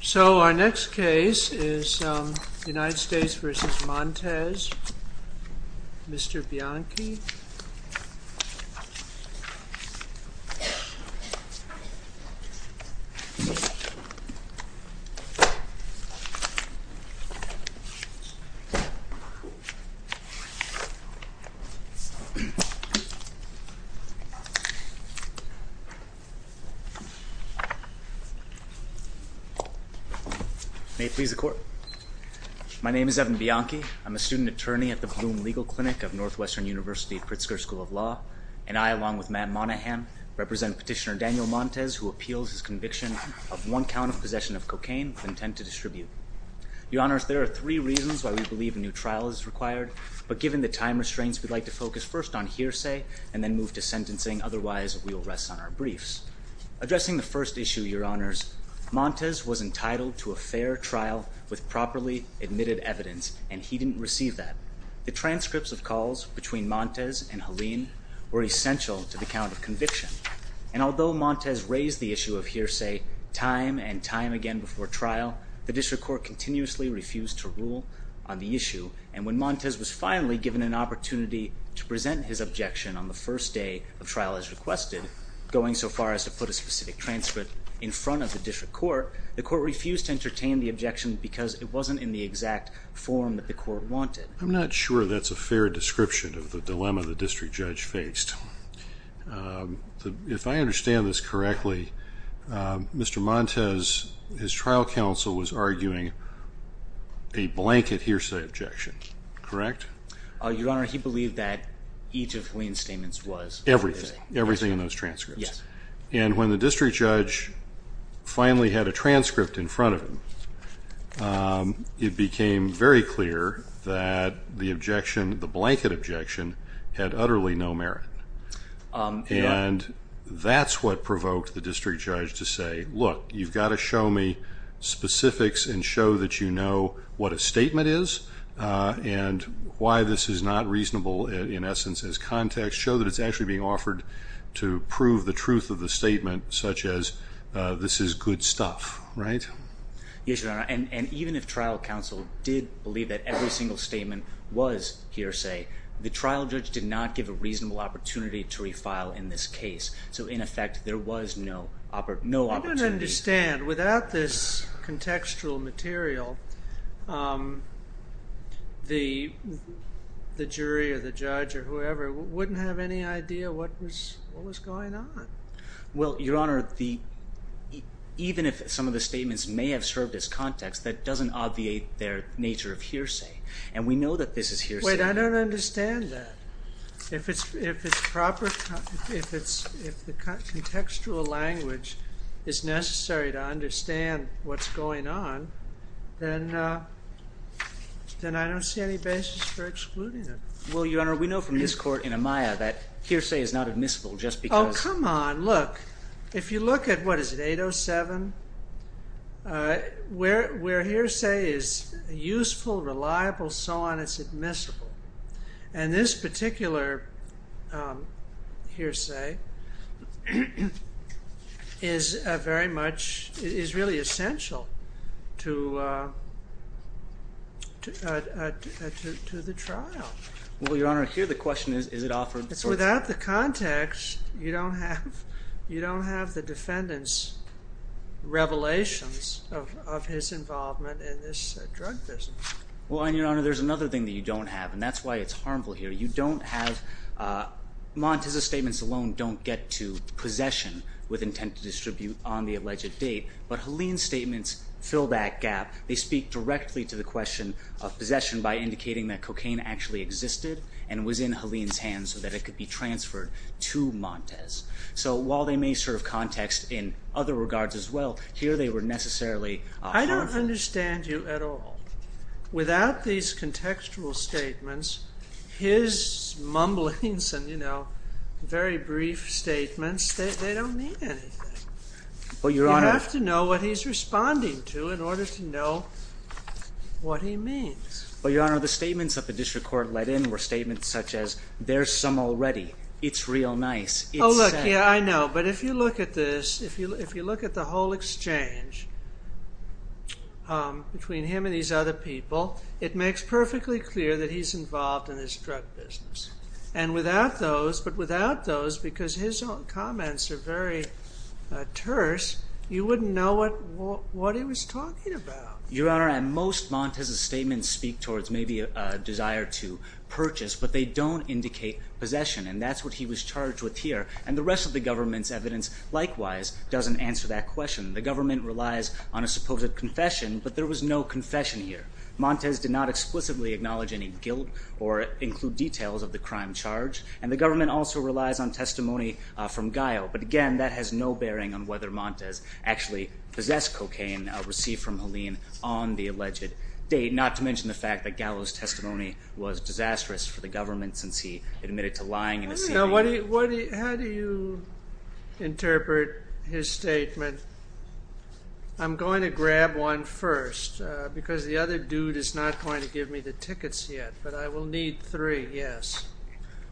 So our next case is United States v. Montez, Mr. Bianchi. May it please the Court. My name is Evan Bianchi. I'm a student attorney at the Blum Legal Clinic of Northwestern University Pritzker School of Law, and I, along with Matt Monahan, represent Petitioner Daniel Montez, who appeals his conviction of one count of possession of cocaine with intent to distribute. Your Honors, there are three reasons why we believe a new trial is required, but given the time restraints, we'd like to focus first on hearsay and then move to sentencing. Otherwise, we will rest on our briefs. Addressing the first issue, Your Honors, Montez was entitled to a fair trial with properly admitted evidence, and he didn't receive that. The transcripts of calls between Montez and Helene were essential to the count of conviction. And although Montez raised the issue of hearsay time and time again before trial, the District Court continuously refused to rule on the issue. And when Montez was finally given an opportunity to present his objection on the first day of trial as requested, going so far as to put a specific transcript in front of the District Court, the Court refused to entertain the objection because it wasn't in the exact form that the Court wanted. I'm not sure that's a fair description of the dilemma the District Judge faced. If I understand this correctly, Mr. Montez, his trial counsel was arguing a blanket hearsay objection, correct? Your Honor, he believed that each of Helene's statements was. Everything, everything in those transcripts. Yes. And when the District Judge finally had a transcript in front of him, it became very clear that the objection, the blanket objection, had utterly no merit. And that's what provoked the District Judge to say, look, you've got to show me specifics and show that you know what a statement is and why this is not reasonable in essence as context, show that it's actually being offered to prove the truth of the statement such as this is good stuff, right? Yes, Your Honor. And even if trial counsel did believe that every single statement was hearsay, the trial judge did not give a reasonable opportunity to refile in this case. So in effect, there was no opportunity. I don't understand. Without this contextual material, the jury or the judge or whoever wouldn't have any idea what was going on. Well, Your Honor, even if some of the statements may have served as context, that doesn't obviate their nature of hearsay. And we know that this is hearsay. Wait, I don't understand that. If it's proper, if the contextual language is necessary to understand what's going on, then I don't see any basis for excluding it. Well, Your Honor, we know from this court in Amaya that hearsay is not admissible just because come on, look, if you look at, what is it, 807, where hearsay is useful, reliable, so on, it's admissible. And this particular hearsay is very much, is really essential to the trial. Well, Your Honor, here the question is, is it offered? Without the context, you don't have the defendant's revelations of his involvement in this drug business. Well, Your Honor, there's another thing that you don't have, and that's why it's harmful here. You don't have, Montez's statements alone don't get to possession with intent to distribute on the alleged date, but Helene's statements fill that gap. They speak directly to the question of possession by indicating that cocaine actually existed and was in Helene's hands so that it could be transferred to Montez. So while they may serve context in other regards as well, here they were necessarily harmful. I don't understand you at all. Without these contextual statements, his mumblings and, you know, very brief statements, they don't mean anything. You have to know what he's responding to in order to know what he means. Well, Your Honor, the statements that the district court let in were statements such as, there's some already, it's real nice, it's sad. Oh, look, yeah, I know. But if you look at this, if you look at the whole exchange between him and these other people, it makes perfectly clear that he's involved in this drug business. And without those, but without those, because his own comments are very terse, you wouldn't know what he was talking about. Your Honor, most Montez's statements speak towards maybe a desire to purchase, but they don't indicate possession, and that's what he was charged with here. And the rest of the government's evidence likewise doesn't answer that question. The government relies on a supposed confession, but there was no confession here. Montez did not explicitly acknowledge any guilt or include details of the crime charged, and the government also relies on testimony from Gallo. But, again, that has no bearing on whether Montez actually possessed cocaine received from Helene on the alleged date, not to mention the fact that Gallo's testimony was disastrous for the government since he admitted to lying in a seating area. How do you interpret his statement, I'm going to grab one first, because the other dude is not going to give me the tickets yet, but I will need three, yes?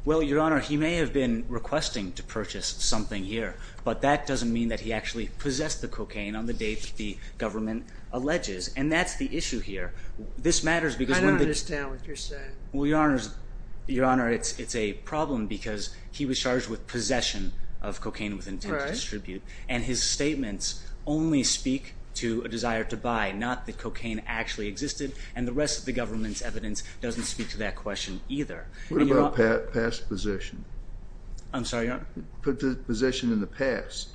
Well, Your Honor, he may have been requesting to purchase something here, but that doesn't mean that he actually possessed the cocaine on the date the government alleges, and that's the issue here. I don't understand what you're saying. Well, Your Honor, it's a problem because he was charged with possession of cocaine with intent to distribute, and his statements only speak to a desire to buy, not that cocaine actually existed, and the rest of the government's evidence doesn't speak to that question either. What about past possession? I'm sorry, Your Honor? Put the possession in the past,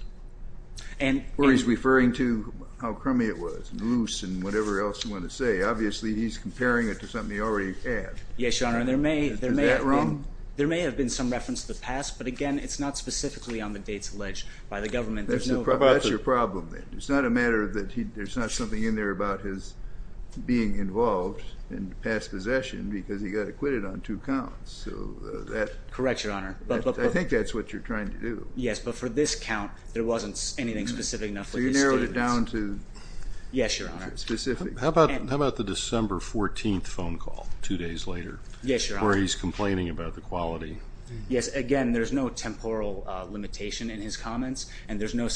where he's referring to how crummy it was and loose and whatever else you want to say. Obviously, he's comparing it to something he already had. Yes, Your Honor, there may have been some reference to the past, but, again, it's not specifically on the dates alleged by the government. That's your problem then. It's not a matter that there's not something in there about his being involved in past possession because he got acquitted on two counts. Correct, Your Honor. I think that's what you're trying to do. Yes, but for this count, there wasn't anything specific enough with his statements. So you narrowed it down to specifics. Yes, Your Honor. How about the December 14th phone call, two days later, where he's complaining about the quality? Yes, again, there's no temporal limitation in his comments, and there's no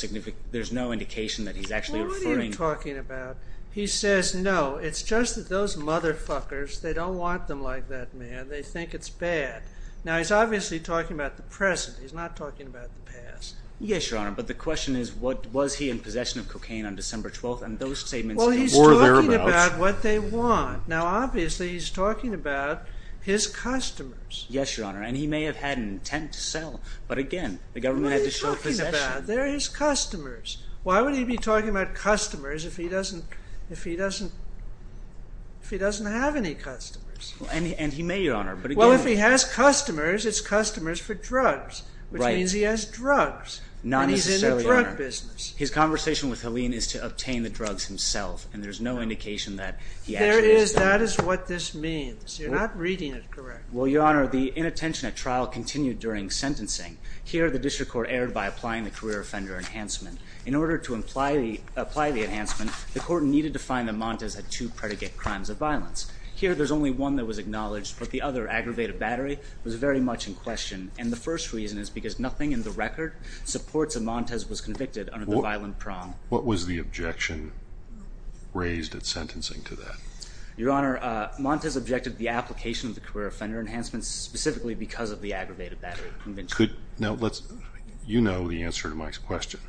indication that he's actually referring. What are you talking about? He says, no, it's just that those motherfuckers, they don't want them like that, man. They think it's bad. Now, he's obviously talking about the present. He's not talking about the past. Yes, Your Honor, but the question is, was he in possession of cocaine on December 12th? And those statements were thereabouts. Well, he's talking about what they want. Now, obviously, he's talking about his customers. Yes, Your Honor, and he may have had an intent to sell, but, again, the government had to show possession. What are you talking about? They're his customers. Why would he be talking about customers if he doesn't have any customers? And he may, Your Honor. Well, if he has customers, it's customers for drugs, which means he has drugs. Not necessarily, Your Honor. And he's in the drug business. His conversation with Helene is to obtain the drugs himself, and there's no indication that he actually sold them. There is. That is what this means. You're not reading it correctly. Well, Your Honor, the inattention at trial continued during sentencing. Here, the district court erred by applying the career offender enhancement. In order to apply the enhancement, the court needed to find that Montes had two predicate crimes of violence. Here, there's only one that was acknowledged, but the other, aggravated battery, was very much in question, and the first reason is because nothing in the record supports that Montes was convicted under the violent prong. What was the objection raised at sentencing to that? Your Honor, Montes objected to the application of the career offender enhancement specifically because of the aggravated battery convention. Now, you know the answer to Mike's question.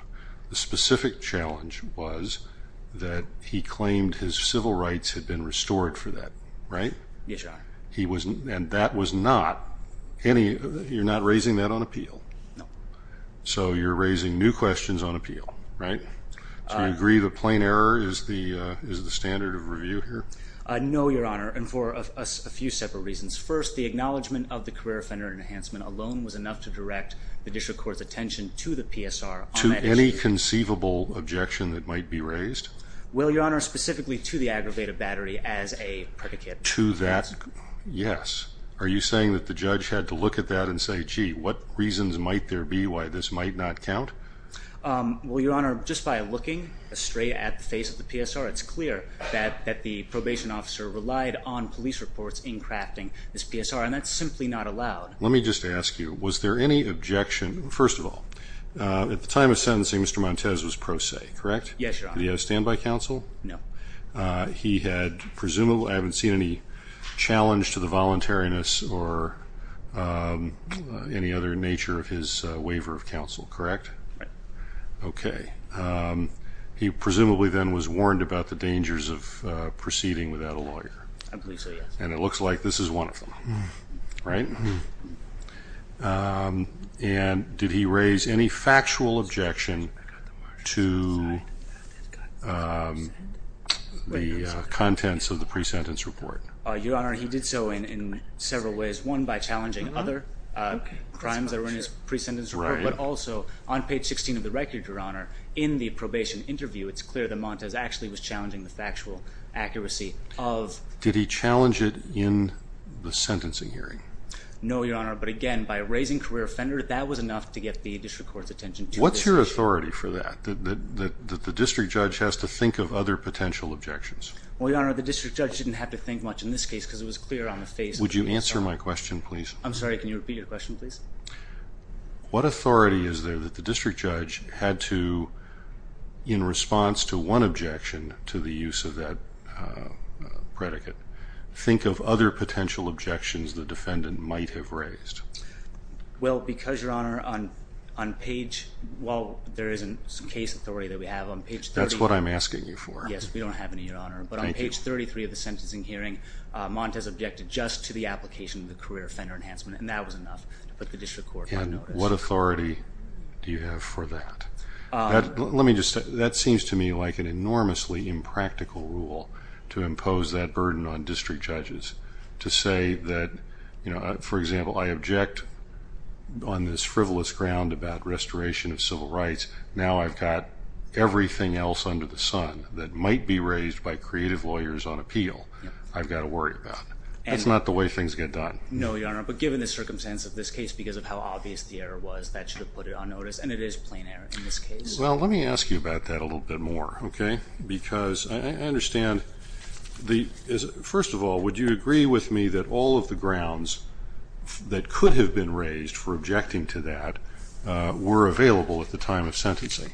The specific challenge was that he claimed his civil rights had been restored for that, right? Yes, Your Honor. And that was not any, you're not raising that on appeal? No. So you're raising new questions on appeal, right? Do you agree that plain error is the standard of review here? No, Your Honor, and for a few separate reasons. First, the acknowledgement of the career offender enhancement alone was enough to direct the district court's attention to the PSR on that issue. To any conceivable objection that might be raised? Well, Your Honor, specifically to the aggravated battery as a predicate. To that, yes. Are you saying that the judge had to look at that and say, gee, what reasons might there be why this might not count? Well, Your Honor, just by looking straight at the face of the PSR, it's clear that the probation officer relied on police reports in crafting this PSR, and that's simply not allowed. Let me just ask you, was there any objection, first of all, at the time of sentencing Mr. Montez was pro se, correct? Yes, Your Honor. Did he have a standby counsel? No. He had presumably, I haven't seen any challenge to the voluntariness or any other nature of his waiver of counsel, correct? Right. Okay. He presumably then was warned about the dangers of proceeding without a lawyer. I believe so, yes. And it looks like this is one of them, right? And did he raise any factual objection to the contents of the pre-sentence report? Your Honor, he did so in several ways, one by challenging other crimes that were in his pre-sentence report, but also on page 16 of the record, Your Honor, in the probation interview, it's clear that Montez actually was challenging the factual accuracy of Did he challenge it in the sentencing hearing? No, Your Honor, but again, by raising career offender, that was enough to get the district court's attention to this issue. What's your authority for that, that the district judge has to think of other potential objections? Well, Your Honor, the district judge didn't have to think much in this case because it was clear on the face of it. Would you answer my question, please? I'm sorry, can you repeat your question, please? What authority is there that the district judge had to, in response to one objection to the use of that predicate, think of other potential objections the defendant might have raised? Well, because, Your Honor, on page, while there is some case authority that we have on page 33. That's what I'm asking you for. Yes, we don't have any, Your Honor, but on page 33 of the sentencing hearing, Montez objected just to the application of the career offender enhancement, and that was enough to put the district court on notice. What authority do you have for that? Let me just say, that seems to me like an enormously impractical rule to impose that burden on district judges, to say that, for example, I object on this frivolous ground about restoration of civil rights. Now I've got everything else under the sun that might be raised by creative lawyers on appeal, I've got to worry about. That's not the way things get done. No, Your Honor, but given the circumstance of this case, because of how obvious the error was, that should have put it on notice, and it is plain error in this case. Well, let me ask you about that a little bit more, okay? Because I understand, first of all, would you agree with me that all of the grounds that could have been raised for objecting to that were available at the time of sentencing?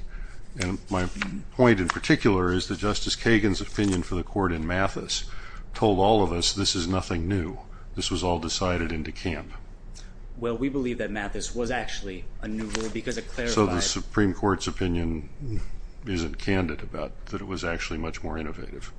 And my point in particular is that Justice Kagan's opinion for the court in Mathis told all of us this is nothing new. This was all decided in DeKalb. Well, we believe that Mathis was actually a new rule because it clarified... So the Supreme Court's opinion isn't candid about that it was actually much more innovative.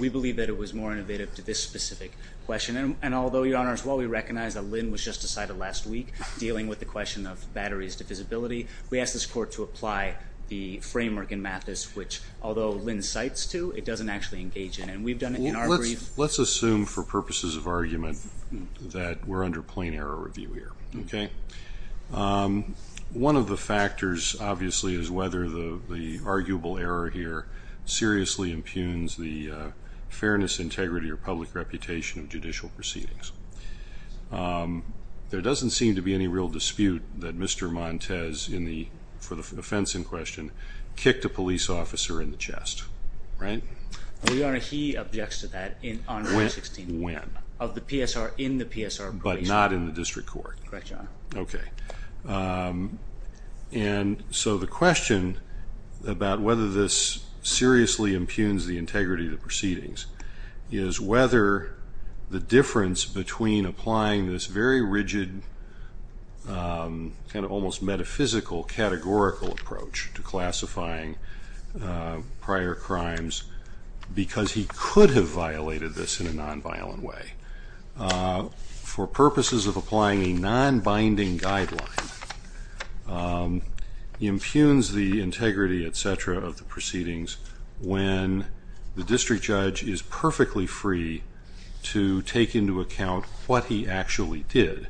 We believe that it was more innovative to this specific question, and although, Your Honor, as well, we recognize that Lynn was just decided last week dealing with the question of batteries to visibility, we asked this court to apply the framework in Mathis, which, although Lynn cites to, it doesn't actually engage in, and we've done it in our brief. Let's assume, for purposes of argument, that we're under plain error review here. Okay? One of the factors, obviously, is whether the arguable error here seriously impugns the fairness, integrity, or public reputation of judicial proceedings. There doesn't seem to be any real dispute that Mr. Montes, for the offense in question, kicked a police officer in the chest. Right? Your Honor, he objects to that on May 16th. When? Of the PSR in the PSR appraisal. But not in the district court? Correct, Your Honor. Okay. And so the question about whether this seriously impugns the integrity of the proceedings is whether the difference between applying this very rigid, kind of almost metaphysical, categorical approach to classifying prior crimes, because he could have violated this in a nonviolent way, for purposes of applying a nonbinding guideline, impugns the integrity, et cetera, of the proceedings when the district judge is perfectly free to take into account what he actually did.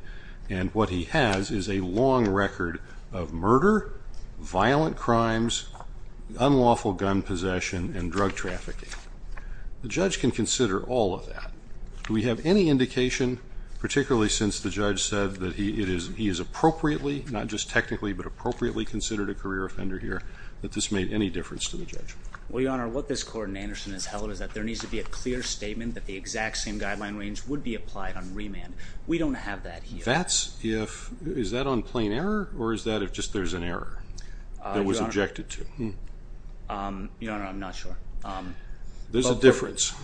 And what he has is a long record of murder, violent crimes, unlawful gun possession, and drug trafficking. The judge can consider all of that. Do we have any indication, particularly since the judge said that he has appropriately, not just technically, but appropriately considered a career offender here, that this made any difference to the judge? Well, Your Honor, what this court in Anderson has held is that there needs to be a clear statement that the exact same guideline range would be applied on remand. We don't have that here. Is that on plain error, or is that if just there's an error that was objected to? Your Honor, I'm not sure. There's a difference.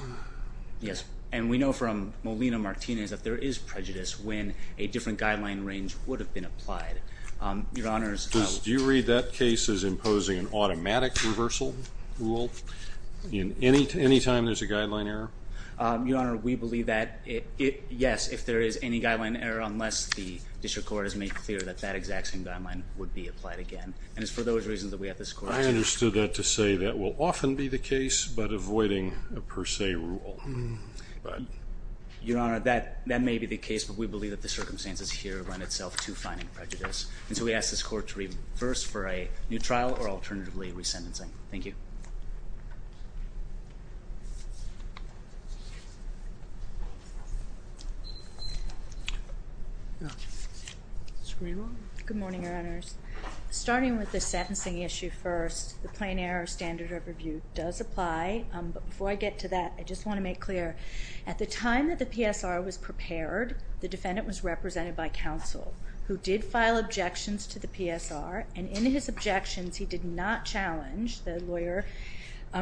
Yes, and we know from Molina-Martinez that there is prejudice when a different guideline range would have been applied. Your Honor, Do you read that case as imposing an automatic reversal rule any time there's a guideline error? Your Honor, we believe that, yes, if there is any guideline error, unless the district court has made clear that that exact same guideline would be applied again. And it's for those reasons that we ask this court to... I understood that to say that will often be the case, but avoiding a per se rule. Your Honor, that may be the case, but we believe that the circumstances here lend itself to finding prejudice. And so we ask this court to reverse for a new trial or alternatively re-sentencing. Thank you. Good morning, Your Honors. Starting with the sentencing issue first, the plain error standard of review does apply. But before I get to that, I just want to make clear, at the time that the PSR was prepared, the defendant was represented by counsel, who did file objections to the PSR. And in his objections, he did not challenge, the lawyer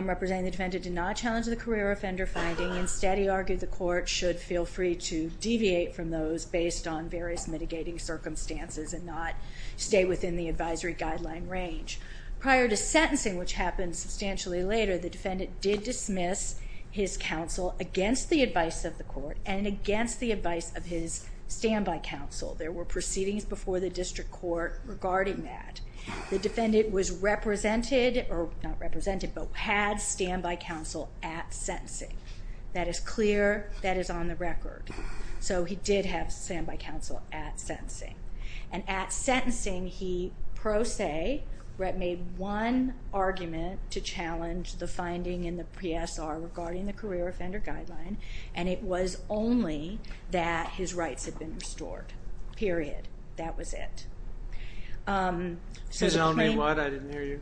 representing the defendant did not challenge the career offender finding. Instead, he argued the court should feel free to deviate from those based on various mitigating circumstances and not stay within the advisory guideline range. Prior to sentencing, which happened substantially later, the defendant did dismiss his counsel against the advice of the court and against the advice of his standby counsel. There were proceedings before the district court regarding that. The defendant was represented, or not represented, but had standby counsel at sentencing. That is clear. That is on the record. So he did have standby counsel at sentencing. And at sentencing, he, pro se, made one argument to challenge the finding in the PSR regarding the career offender guideline, and it was only that his rights had been restored. Period. That was it. His only what? I didn't hear you.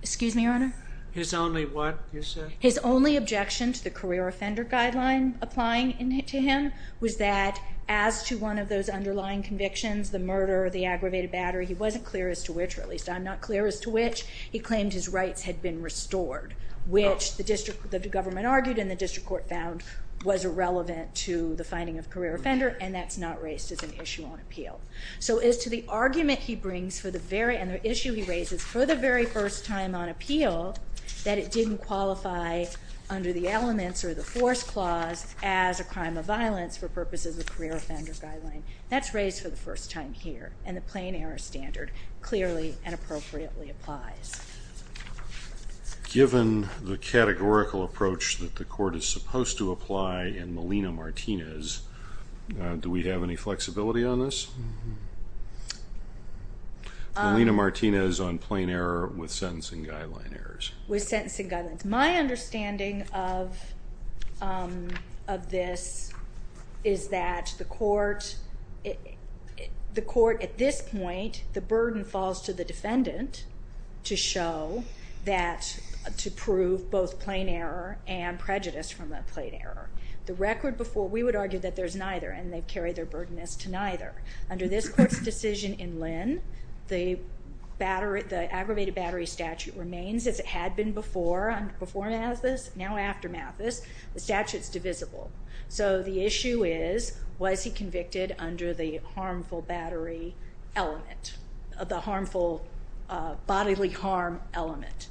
Excuse me, Your Honor? His only what, you said? His only objection to the career offender guideline applying to him was that, as to one of those underlying convictions, the murder, the aggravated battery, he wasn't clear as to which, or at least I'm not clear as to which, he claimed his rights had been restored, which the government argued and the district court found was irrelevant to the finding of career offender, and that's not raised as an issue on appeal. So as to the argument he brings, and the issue he raises for the very first time on appeal, that it didn't qualify under the elements or the force clause as a crime of violence for purposes of career offender guideline, that's raised for the first time here, and the plain error standard clearly and appropriately applies. Given the categorical approach that the court is supposed to apply in Molina-Martinez, do we have any flexibility on this? Molina-Martinez on plain error with sentencing guideline errors. With sentencing guidelines. My understanding of this is that the court, the court at this point, the burden falls to the defendant to show that, to prove both plain error and prejudice from that plain error. The record before, we would argue that there's neither, and they've carried their burden as to neither. Under this court's decision in Lynn, the aggravated battery statute remains as it had been before, before Mathis, now after Mathis, the statute's divisible. So the issue is, was he convicted under the harmful battery element, the harmful bodily harm element.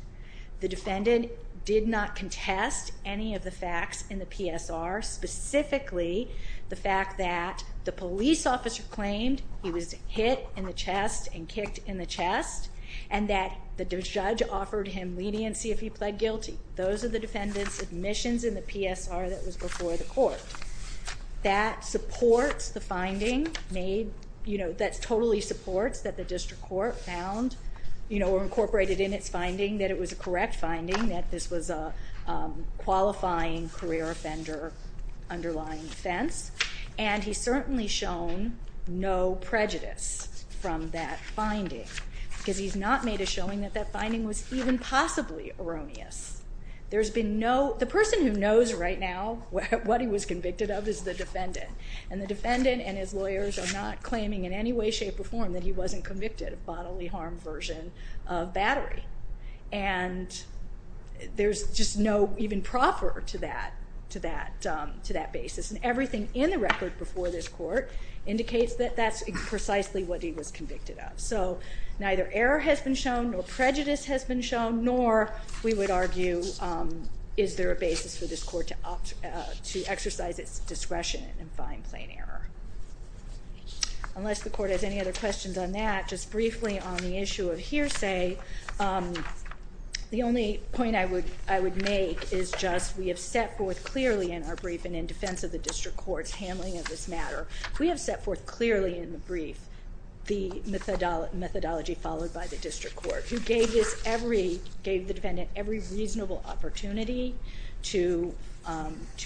The defendant did not contest any of the facts in the PSR, specifically the fact that the police officer claimed he was hit in the chest and kicked in the chest, and that the judge offered him leniency if he pled guilty. Those are the defendant's admissions in the PSR that was before the court. That supports the finding made, you know, that totally supports that the district court found, you know, or incorporated in its finding that it was a correct finding, that this was a qualifying career offender underlying offense. And he's certainly shown no prejudice from that finding, because he's not made a showing that that finding was even possibly erroneous. There's been no... The person who knows right now what he was convicted of is the defendant, and the defendant and his lawyers are not claiming in any way, shape, or form that he wasn't convicted of bodily harm version of battery. And there's just no even proffer to that basis. And everything in the record before this court indicates that that's precisely what he was convicted of. So neither error has been shown, nor prejudice has been shown, nor we would argue is there a basis for this court to exercise its discretion and find plain error. Unless the court has any other questions on that, just briefly on the issue of hearsay, the only point I would make is just we have set forth clearly in our brief and in defense of the district court's handling of this matter, we have set forth clearly in the brief the methodology followed by the district court, who gave the defendant every reasonable opportunity to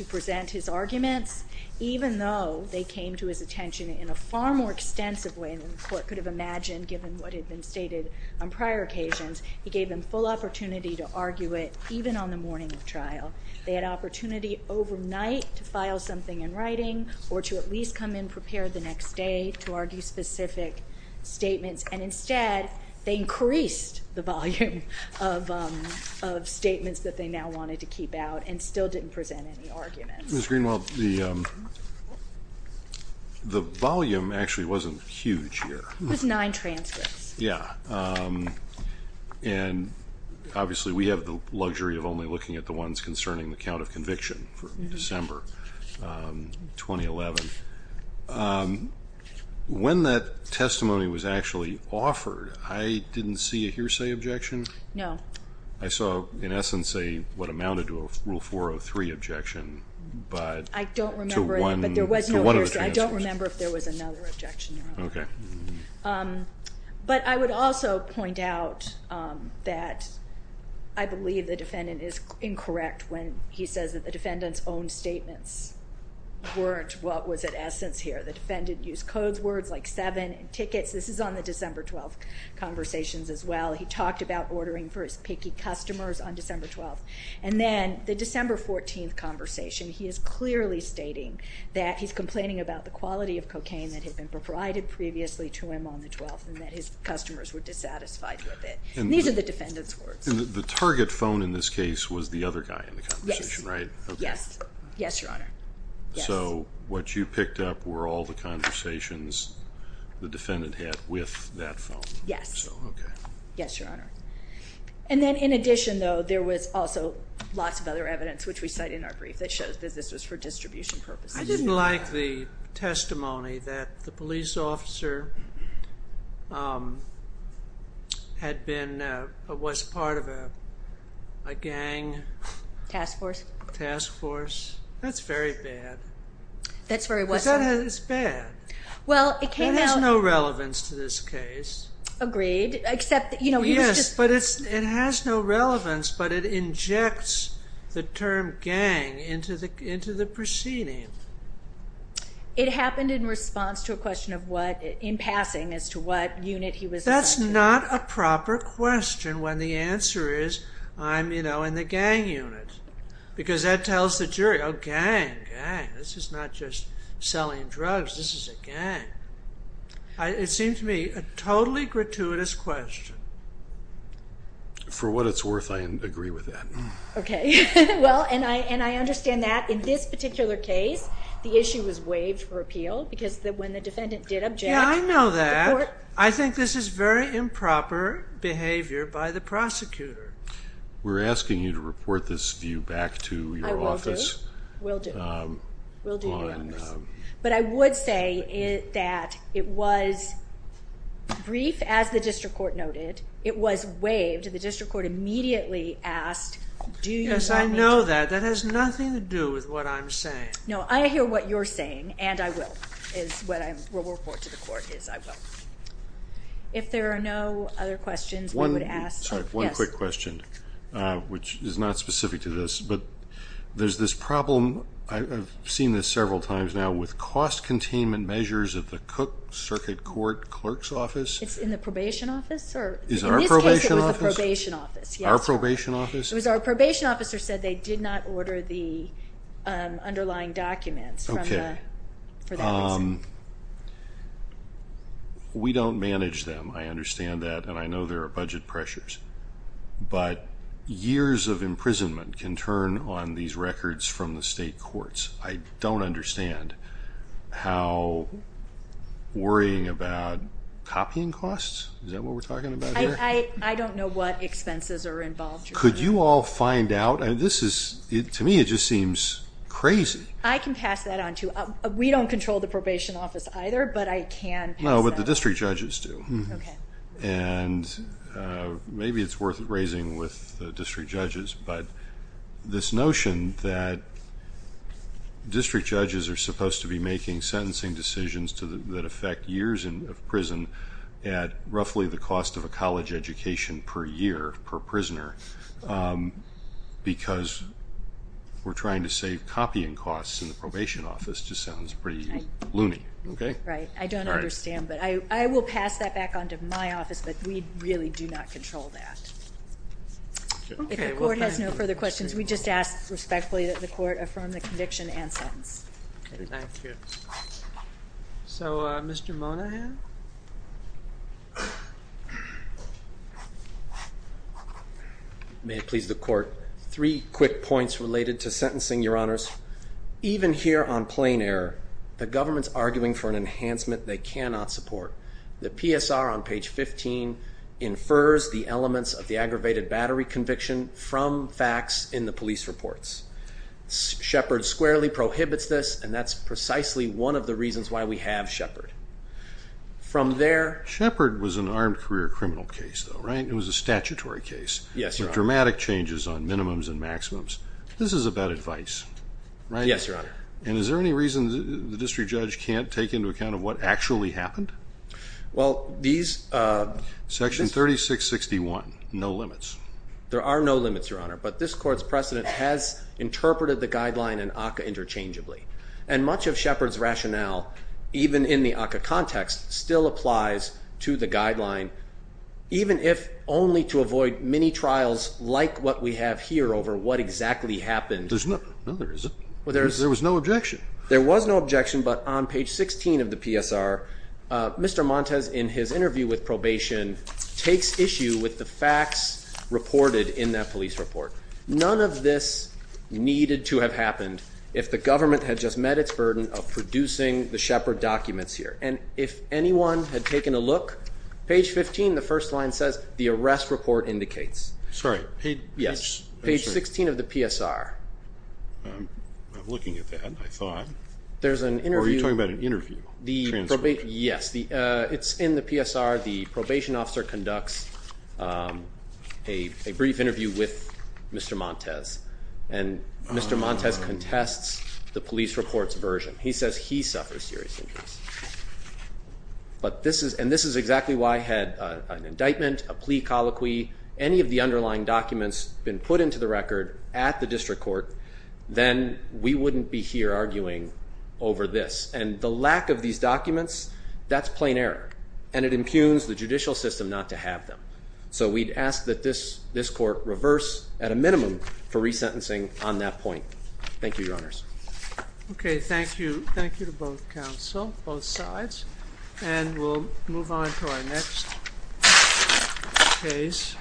present his arguments, even though they came to his attention in a far more extensive way than the court could have imagined given what had been stated on prior occasions. He gave them full opportunity to argue it even on the morning of trial. They had opportunity overnight to file something in writing or to at least come in prepared the next day to argue specific statements. And instead, they increased the volume of statements that they now wanted to keep out and still didn't present any arguments. Ms. Greenwald, the volume actually wasn't huge here. It was nine transcripts. Yeah, and obviously we have the luxury of only looking at the ones concerning the count of conviction for December 2011. When that testimony was actually offered, I didn't see a hearsay objection. No. I saw in essence what amounted to a Rule 403 objection but to one of the transcripts. I don't remember if there was another objection. Okay. But I would also point out that I believe the defendant is incorrect when he says that the defendant's own statements weren't what was at essence here. The defendant used codes words like seven and tickets. This is on the December 12th conversations as well. He talked about ordering for his picky customers on December 12th. And then the December 14th conversation, he is clearly stating that he's complaining about the quality of cocaine that had been provided previously to him on the 12th and that his customers were dissatisfied with it. And these are the defendant's words. The target phone in this case was the other guy in the conversation, right? Yes. Yes, Your Honor. So what you picked up were all the conversations the defendant had with that phone. Yes. Yes, Your Honor. And then in addition, though, there was also lots of other evidence, which we cite in our brief, that shows that this was for distribution purposes. I didn't like the testimony that the police officer had been... was part of a gang... Task force. Task force. That's very bad. That's very what, sir? It's bad. It has no relevance to this case. Agreed. Except, you know, he was just... Yes, but it has no relevance, but it injects the term gang into the proceeding. It happened in response to a question of what... in passing, as to what unit he was... That's not a proper question when the answer is, I'm, you know, in the gang unit. Because that tells the jury, oh, gang, gang, this is not just selling drugs, this is a gang. It seems to me a totally gratuitous question. For what it's worth, I agree with that. Okay. Well, and I understand that in this particular case, the issue was waived for appeal because when the defendant did object... Yeah, I know that. I think this is very improper behavior by the prosecutor. We're asking you to report this view back to your office. I will do. Will do. But I would say that it was brief, as the district court noted. It was waived. The district court immediately asked... Yes, I know that. That has nothing to do with what I'm saying. No, I hear what you're saying, and I will, is what I will report to the court, is I will. If there are no other questions, we would ask... Sorry, one quick question, which is not specific to this, but there's this problem, I've seen this several times now, with cost containment measures of the Cook Circuit Court Clerk's Office... It's in the probation office? In this case, it was the probation office. Our probation office? Our probation officer said they did not order the underlying documents for that reason. We don't manage them. I understand that, and I know there are budget pressures. But years of imprisonment can turn on these records from the state courts. I don't understand how worrying about copying costs? Is that what we're talking about here? I don't know what expenses are involved. Could you all find out? This is, to me, it just seems crazy. I can pass that on to you. We don't control the probation office either, but I can pass that on. No, but the district judges do. And maybe it's worth raising with the district judges, but this notion that district judges are supposed to be making sentencing decisions that affect years of prison at roughly the cost of a college education per year per prisoner because we're trying to save copying costs in the probation office just sounds pretty loony. Right. I don't understand, but I will pass that back on to my office, but we really do not control that. If the court has no further questions, we just ask respectfully that the court affirm the conviction and sentence. Thank you. So, Mr. Monahan? May it please the court. Three quick points related to sentencing, Your Honors. Even here on plain error, the government's arguing for an enhancement they cannot support. The PSR on page 15 infers the elements of the facts in the police reports. Shepard squarely prohibits this, and that's precisely one of the reasons why we have Shepard. From there... Shepard was an armed career criminal case, though, right? It was a statutory case. Yes, Your Honor. Dramatic changes on minimums and maximums. This is about advice, right? Yes, Your Honor. And is there any reason the district judge can't take into account of what actually happened? Well, these... Section 3661, no limits. There are no limits, Your Honor. But this court's precedent has interpreted the guideline and ACCA interchangeably. And much of Shepard's rationale, even in the ACCA context, still applies to the guideline, even if only to avoid many trials like what we have here over what exactly happened. No, there isn't. There was no objection. There was no objection, but on page 16 of the PSR, Mr. Montes, in his interview with probation, takes issue with the facts reported in that police report. None of this needed to have happened if the government had just met its burden of producing the Shepard documents here. And if anyone had taken a look, page 15, the first line says the arrest report indicates. Sorry, page... Yes, page 16 of the PSR. I'm looking at that, I thought. There's an interview... Or are you talking about an interview transcript? Yes. It's in the PSR. The probation officer conducts a brief interview with Mr. Montes and Mr. Montes contests the police report's version. He says he suffers serious injuries. And this is exactly why, had an indictment, a plea colloquy, any of the underlying documents been put into the record at the district court, then we wouldn't be here arguing over this. And the lack of these documents, that's plenary. And it impugns the judicial system not to have them. So we'd ask that this court reverse, at a minimum, for resentencing on that point. Thank you, Your Honors. Okay, thank you. Thank you to both counsel, both sides. And we'll move on to our next case.